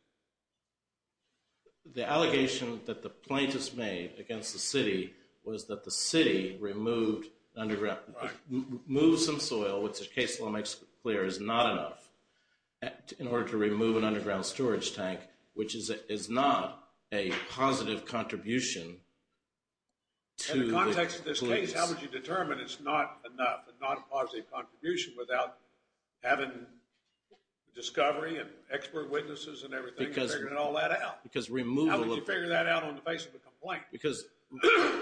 The allegation that the plaintiffs made against the city was that the city removed underground... Right. ...moved some soil, which the case law makes clear is not enough, in order to remove an underground storage tank, which is not a positive contribution to the police. In the context of this case, how would you determine it's not enough, and not a positive contribution without having discovery and expert witnesses and everything, and figuring all that out? Because removal... How would you figure that out in the face of a complaint? Because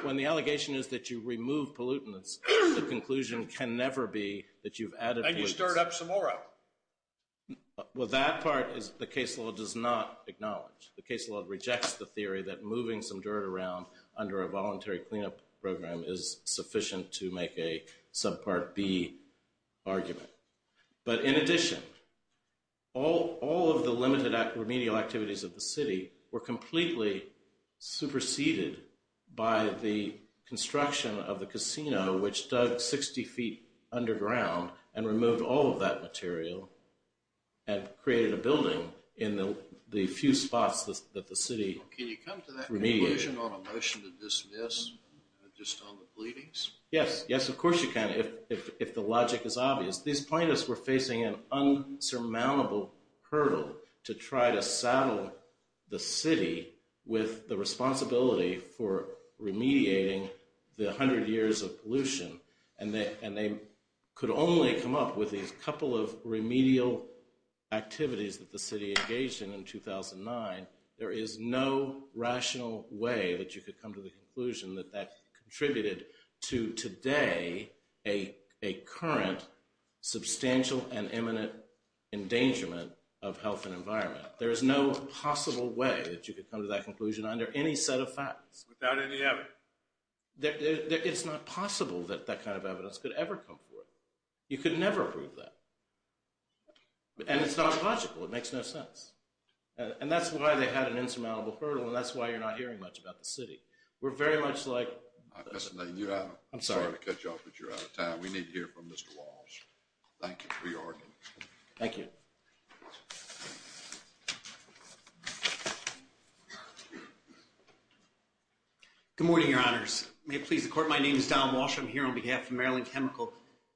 when the allegation is that you removed pollutants, the conclusion can never be that you've added pollutants. And you stirred up some more of them. Well, that part is the case law does not acknowledge. The case law rejects the theory that moving some dirt around under a voluntary cleanup program is sufficient to make a subpart B argument. But in addition, all of the limited remedial activities of the city were completely superseded by the construction of the casino, which dug 60 feet underground and removed all of that material and created a building in the few spots that the city remediated. Can you come to that conclusion on a motion to dismiss just on the pleadings? Yes. Yes, of course you can, if the logic is obvious. These plaintiffs were facing an insurmountable hurdle to try to saddle the city with the responsibility for remediating the 100 years of pollution. And they could only come up with these couple of remedial activities that the city engaged in in 2009. There is no rational way that you could come to the conclusion that that contributed to today a current substantial and imminent endangerment of health and environment. There is no possible way that you could come to that conclusion under any set of facts. Without any evidence. It's not possible that that kind of evidence could ever come forth. You could never prove that. And it's not logical. It makes no sense. And that's why they had an insurmountable hurdle and that's why you're not hearing much about the city. We're very much like... I'm sorry to cut you off, but you're out of time. We need to hear from Mr. Walsh. Thank you for your argument. Thank you. Good morning, Your Honors. May it please the court, my name is Don Walsh. I'm here on behalf of Maryland Chemical.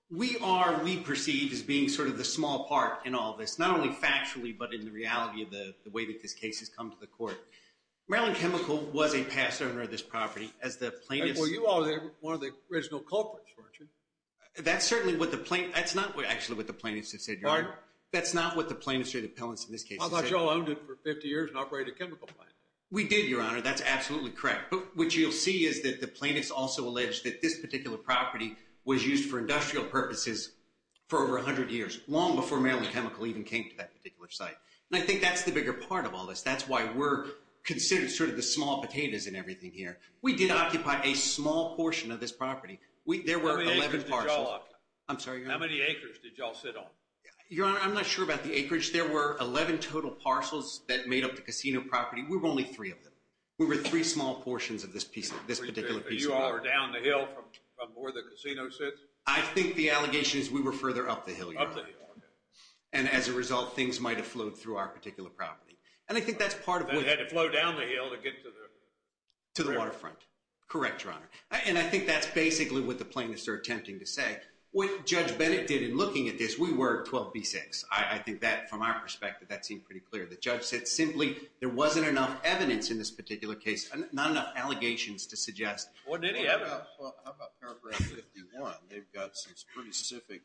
We are, we perceive, as being sort of the small part in all this. Not only factually, but in the reality of the way that this case has come to the court. Maryland Chemical was a past owner of this property. As the plaintiffs... Well, you are one of the original culprits, weren't you? That's certainly what the plaintiffs... That's not actually what the plaintiffs have said, Your Honor. Pardon? That's not what the plaintiffs or the appellants in this case have said. I thought you all owned it for 50 years and operated a chemical plant. We did, Your Honor. That's absolutely correct. But what you'll see is that the plaintiffs also allege that this particular property was used for industrial purposes for over 100 years, long before Maryland Chemical even came to that particular site. And I think that's the bigger part of all this. That's why we're considered sort of the small potatoes in everything here. We did occupy a small portion of this property. There were 11 parcels. How many acres did you all occupy? I'm sorry, Your Honor. How many acres did you all sit on? Your Honor, I'm not sure about the acreage. There were 11 total parcels that made up the casino property. We were only three of them. We were three small portions of this particular piece of property. So you all were down the hill from where the casino sits? I think the allegation is we were further up the hill, Your Honor. Up the hill, okay. And as a result, things might have flowed through our particular property. And I think that's part of what... That had to flow down the hill to get to the... To the waterfront. Correct, Your Honor. And I think that's basically what the plaintiffs are attempting to say. What Judge Bennett did in looking at this, we were 12B6. I think that, from our perspective, that seemed pretty clear. The judge said simply there wasn't enough evidence in this particular case. Not enough allegations to suggest... Well, how about paragraph 51? They've got some pretty specific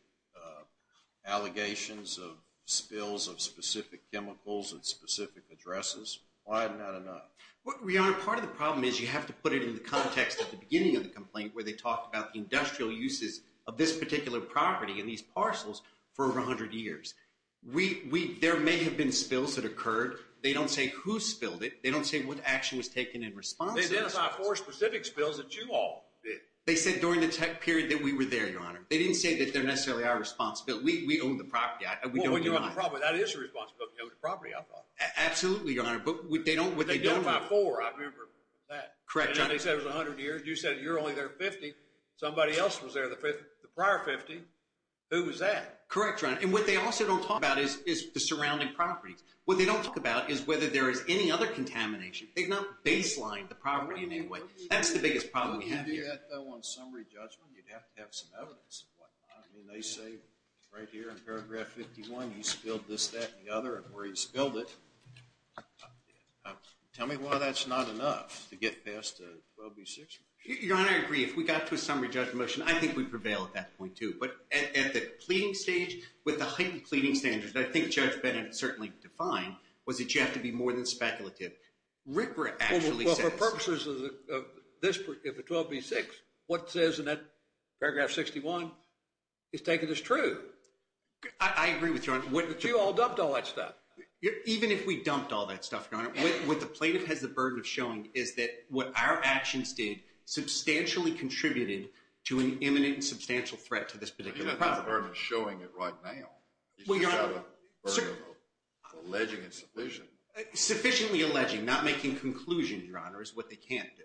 allegations of spills of specific chemicals and specific addresses. Why not enough? Well, Your Honor, part of the problem is you have to put it in the context at the beginning of the complaint where they talk about the industrial uses of this particular property and these parcels for over 100 years. We... There may have been spills that occurred. They don't say who spilled it. They don't say what action was taken in response. They identify four specific spills that you all did. They said during the tech period that we were there, Your Honor. They didn't say that they're necessarily our responsibility. We own the property. We don't deny it. Well, when you're on the property, that is your responsibility. You own the property, I thought. Absolutely, Your Honor. But they don't... They identify four. I remember that. Correct, Your Honor. And they said it was 100 years. You said you're only there 50. Somebody else was there the prior 50. Who was that? Correct, Your Honor. And what they also don't talk about is the surrounding properties. What they don't talk about is whether there is any other contamination. They've not baselined the property in any way. That's the biggest problem we have here. If you do that, though, on summary judgment, you'd have to have some evidence. I mean, they say right here in paragraph 51, you spilled this, that, and the other, and where you spilled it. Tell me why that's not enough to get past 12B6. Your Honor, I agree. If we got to a summary judgment motion, I think we'd prevail at that point, too. But at the pleading stage, with the heightened pleading standards, I think Judge Bennett certainly defined, was that you have to be more than speculative. RCRA actually says... Well, for purposes of 12B6, what it says in that paragraph 61 is taken as true. I agree with you, Your Honor. But you all dumped all that stuff. Even if we dumped all that stuff, Your Honor, what the plaintiff has the burden of showing is that what our actions did substantially contributed to an imminent and substantial threat to this particular property. But even if the burden is showing it right now, you still have the burden of alleging it's sufficient. Sufficiently alleging, not making conclusions, Your Honor, is what they can't do.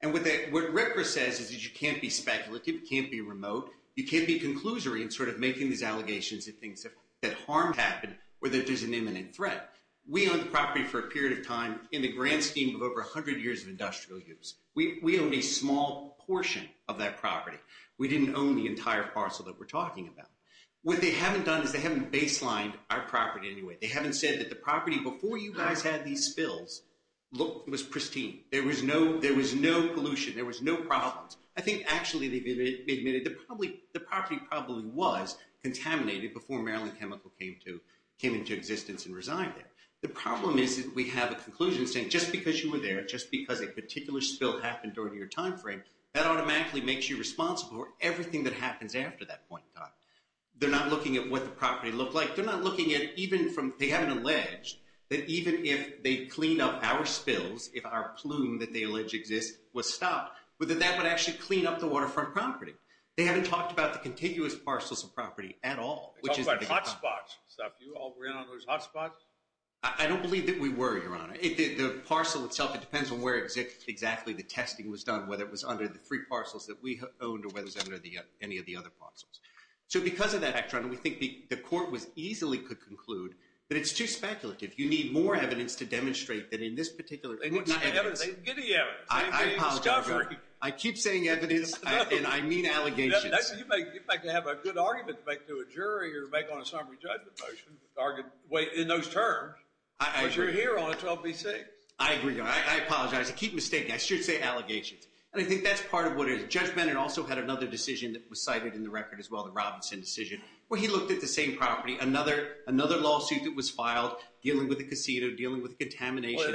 And what RCRA says is that you can't be speculative, you can't be remote, you can't be conclusory in sort of making these allegations and things that harm happen or that there's an imminent threat. We owned the property for a period of time in the grand scheme of over 100 years of industrial use. We owned a small portion of that property. We didn't own the entire parcel that we're talking about. What they haven't done is they haven't baselined our property in any way. They haven't said that the property before you guys had these spills was pristine. There was no pollution. There was no problems. I think actually they've admitted the property probably was contaminated before Maryland Chemical came into existence and resigned it. The problem is that we have a conclusion saying just because you were there, just because a particular spill happened during your time frame, that automatically makes you responsible for everything that happens after that point in time. They're not looking at what the property looked like. They haven't alleged that even if they clean up our spills, if our plume that they allege exists was stopped, that that would actually clean up the waterfront property. They haven't talked about the contiguous parcels of property at all. They talked about hot spots. You all ran on those hot spots? I don't believe that we were, Your Honor. The parcel itself, it depends on where exactly the testing was done, whether it was under the three parcels that we owned or whether it was under any of the other parcels. So because of that, Your Honor, we think the court easily could conclude that it's too speculative. You need more evidence to demonstrate that in this particular case. They didn't get any evidence. I apologize, Your Honor. I keep saying evidence, and I mean allegations. You'd like to have a good argument to make to a jury or to make on a summary judgment motion in those terms. I agree. But you're here on 12b-6. I agree, Your Honor. I apologize. I keep mistaking. I should say allegations. And I think that's part of what it is. Judge Bennett also had another decision that was cited in the record as well, the Robinson decision, where he looked at the same property, another lawsuit that was filed dealing with the casino, dealing with contamination issues.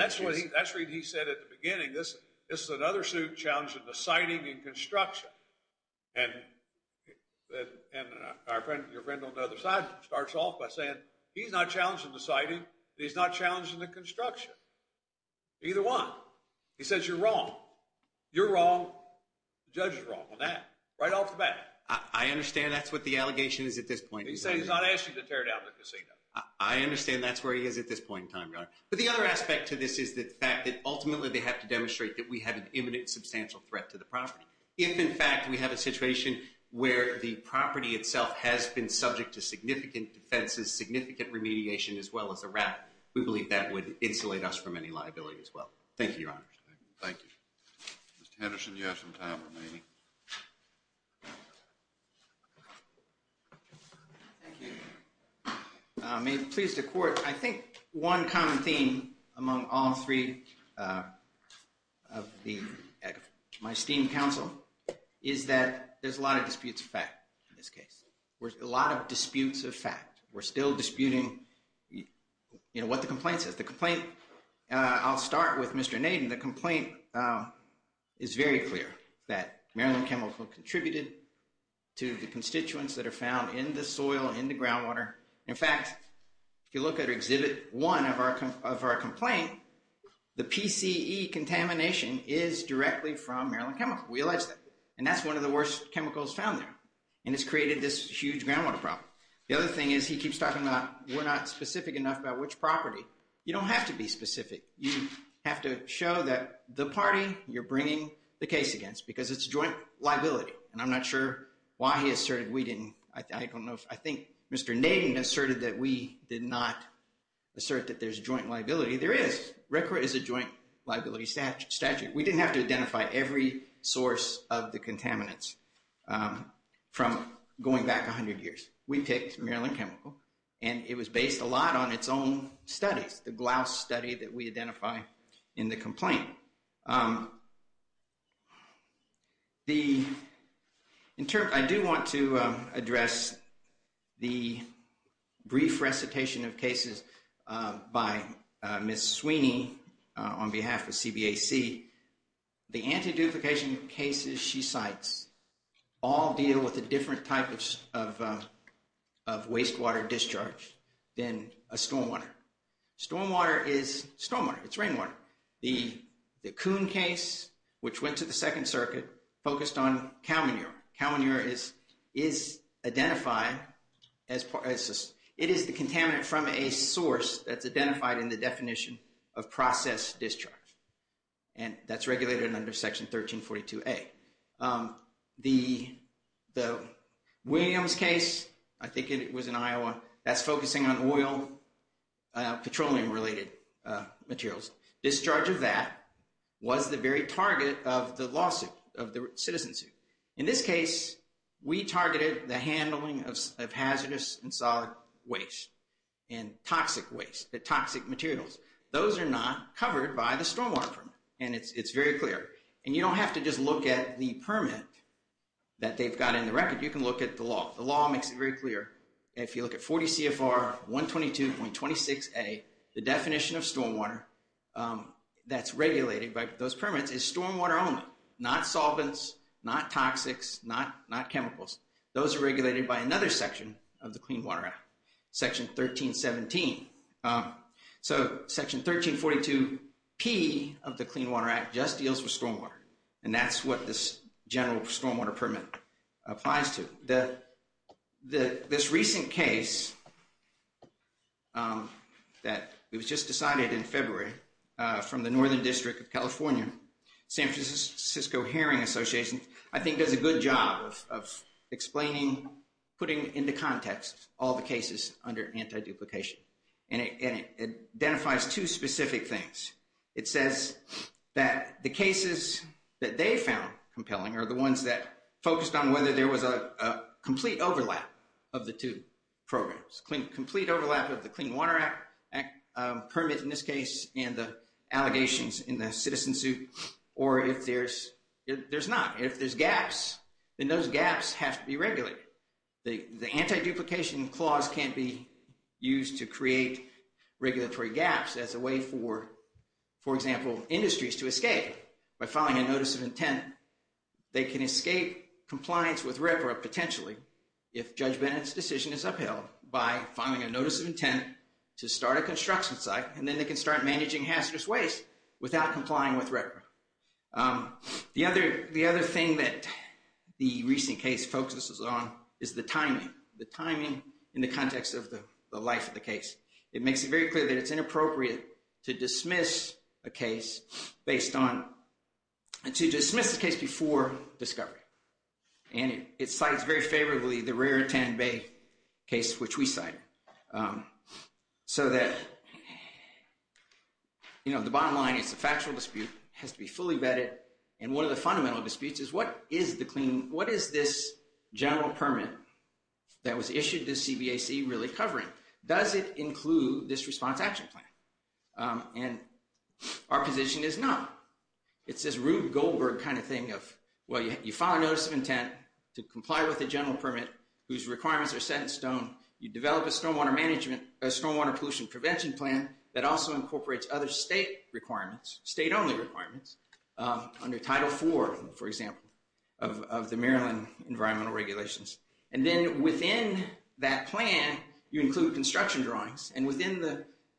That's what he said at the beginning. This is another suit challenging the citing and construction. And our friend, your friend on the other side, starts off by saying he's not challenging the citing. He's not challenging the construction. Either one. He says you're wrong. You're wrong. The judge is wrong on that, right off the bat. I understand that's what the allegation is at this point. He's saying he's not asking to tear down the casino. I understand that's where he is at this point in time, Your Honor. But the other aspect to this is the fact that ultimately they have to demonstrate that we have an imminent, substantial threat to the property. If, in fact, we have a situation where the property itself has been subject to significant defenses, significant remediation, as well as a wrap, we believe that would insulate us from any liability as well. Thank you, Your Honor. Thank you. Mr. Henderson, you have some time remaining. May it please the Court, I think one common theme among all three of my esteemed counsel is that there's a lot of disputes of fact in this case. There's a lot of disputes of fact. We're still disputing, you know, what the complaint says. The complaint, I'll start with Mr. Naden. The complaint is very clear that Maryland Chemical contributed to the constituents that are found in the soil, in the groundwater. In fact, if you look at Exhibit 1 of our complaint, the PCE contamination is directly from Maryland Chemical. We allege that. And that's one of the worst chemicals found there. And it's created this huge groundwater problem. The other thing is he keeps talking about we're not specific enough about which property. You don't have to be specific. You have to show that the party you're bringing the case against because it's a joint liability. And I'm not sure why he asserted we didn't. I don't know. I think Mr. Naden asserted that we did not assert that there's a joint liability. There is. RCRA is a joint liability statute. We didn't have to identify every source of the contaminants from going back 100 years. We picked Maryland Chemical, and it was based a lot on its own studies, the Glouse study that we identify in the complaint. I do want to address the brief recitation of cases by Ms. Sweeney on behalf of CBAC. The anti-duplication cases she cites all deal with a different type of wastewater discharge than a stormwater. Stormwater is stormwater. It's rainwater. The Kuhn case, which went to the Second Circuit, focused on cow manure. Cow manure is identified as – it is the contaminant from a source that's identified in the definition of process discharge. And that's regulated under Section 1342A. The Williams case, I think it was in Iowa, that's focusing on oil, petroleum-related materials. Discharge of that was the very target of the lawsuit, of the citizen suit. In this case, we targeted the handling of hazardous and solid waste and toxic waste, the toxic materials. Those are not covered by the stormwater permit, and it's very clear. And you don't have to just look at the permit that they've got in the record. You can look at the law. The law makes it very clear. If you look at 40 CFR 122.26a, the definition of stormwater that's regulated by those permits is stormwater only, not solvents, not toxics, not chemicals. Those are regulated by another section of the Clean Water Act, Section 1317. So Section 1342P of the Clean Water Act just deals with stormwater, and that's what this general stormwater permit applies to. This recent case that was just decided in February from the Northern District of California, San Francisco Hearing Association, I think does a good job of explaining, putting into context all the cases under anti-duplication. And it identifies two specific things. It says that the cases that they found compelling are the ones that focused on whether there was a complete overlap of the two programs, complete overlap of the Clean Water Act permit, in this case, and the allegations in the citizen suit, or if there's not. If there's gaps, then those gaps have to be regulated. The anti-duplication clause can be used to create regulatory gaps as a way for, for example, industries to escape by filing a notice of intent. They can escape compliance with REPRA potentially if Judge Bennett's decision is upheld by filing a notice of intent to start a construction site, and then they can start managing hazardous waste without complying with REPRA. The other thing that the recent case focuses on is the timing, the timing in the context of the life of the case. It makes it very clear that it's inappropriate to dismiss a case based on, to dismiss a case before discovery. And it cites very favorably the Raritan Bay case, which we cite. So that, you know, the bottom line is the factual dispute has to be fully vetted. And one of the fundamental disputes is what is the clean, what is this general permit that was issued to CBAC really covering? Does it include this response action plan? And our position is no. It's this Rube Goldberg kind of thing of, well, you file a notice of intent to comply with a general permit whose requirements are set in stone. You develop a stormwater management, a stormwater pollution prevention plan that also incorporates other state requirements, state-only requirements under Title IV, for example, of the Maryland environmental regulations. And then within that plan, you include construction drawings. And within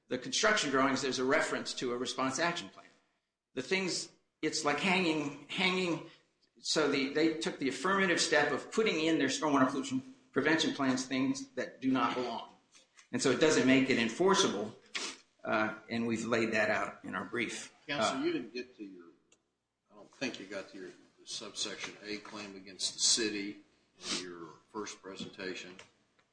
the construction drawings, there's a reference to a response action plan. The things, it's like hanging, so they took the affirmative step of putting in their stormwater pollution prevention plans things that do not belong. And so it doesn't make it enforceable, and we've laid that out in our brief. Counsel, you didn't get to your, I don't think you got to your subsection A claim against the city in your first presentation.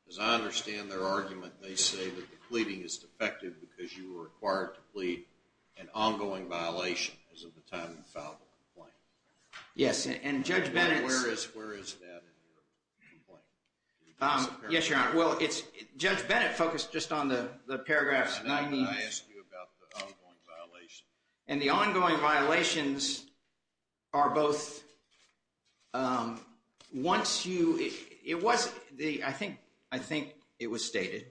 As I understand their argument, they say that the pleading is defective because you were required to plead an ongoing violation as of the time you filed the complaint. Yes, and Judge Bennett's. Where is that in your complaint? Yes, Your Honor. Well, it's, Judge Bennett focused just on the paragraphs. I asked you about the ongoing violation. And the ongoing violations are both, once you, it was, I think it was stated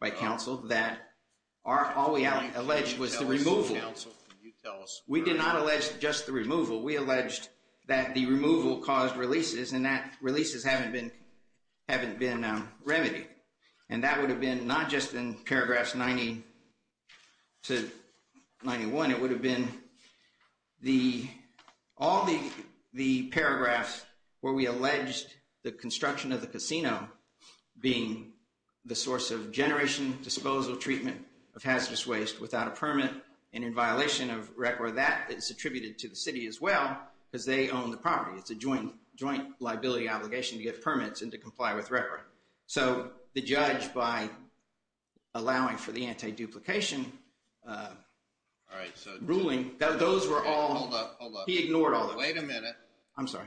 by counsel that all we alleged was the removal. We did not allege just the removal. We alleged that the removal caused releases, and that releases haven't been remedied. And that would have been not just in paragraphs 90 to 91. It would have been the, all the paragraphs where we alleged the construction of the casino being the source of generation disposal treatment of hazardous waste without a permit. And in violation of record that is attributed to the city as well, because they own the property. It's a joint liability obligation to get permits and to comply with record. So the judge, by allowing for the anti-duplication ruling, those were all. Hold up, hold up. He ignored all of them. Wait a minute. I'm sorry.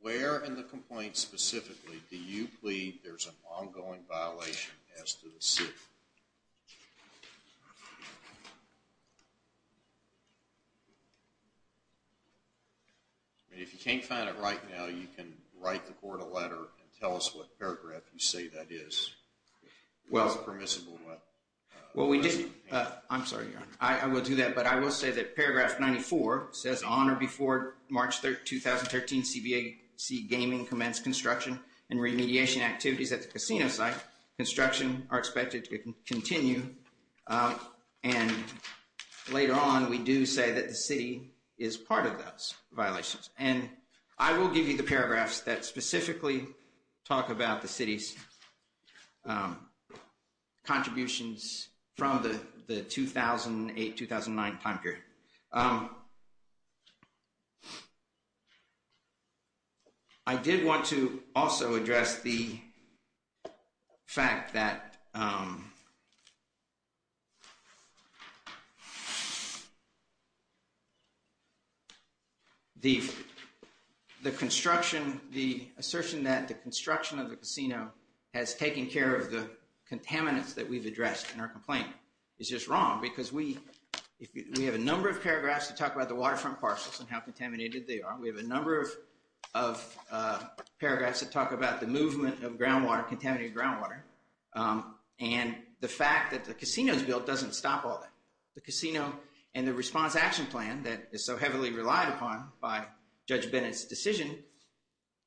Where in the complaint specifically do you plead there's an ongoing violation as to the city? If you can't find it right now, you can write the court a letter and tell us what paragraph you say that is. Well, we didn't. I'm sorry. I will do that. But I will say that paragraph 94 says on or before March 30, 2013, CBAC gaming commenced construction and remediation activities at the casino site. Construction are expected to continue. And later on, we do say that the city is part of those violations. And I will give you the paragraphs that specifically talk about the city's contributions from the 2008-2009 time period. I did want to also address the fact that the construction, the assertion that the construction of the casino has taken care of the contaminants that we've addressed in our complaint is just wrong. Because we have a number of paragraphs that talk about the waterfront parcels and how contaminated they are. We have a number of paragraphs that talk about the movement of groundwater, contaminated groundwater. And the fact that the casino is built doesn't stop all that. The casino and the response action plan that is so heavily relied upon by Judge Bennett's decision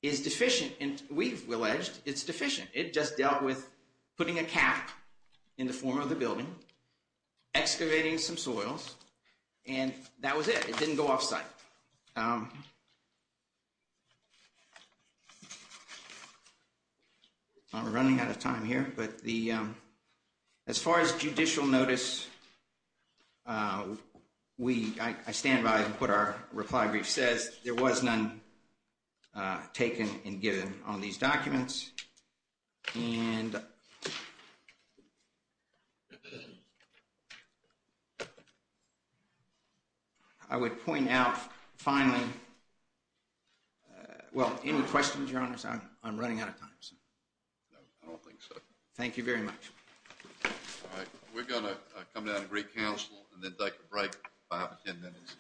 is deficient. And we've alleged it's deficient. It just dealt with putting a cap in the form of the building, excavating some soils, and that was it. It didn't go off site. I'm running out of time here. As far as judicial notice, I stand by what our reply brief says. There was none taken and given on these documents. And I would point out finally, well, any questions, your honors? I'm running out of time. No, I don't think so. Thank you very much. All right. We're going to come down and recouncil and then take a break. I have 10 minutes.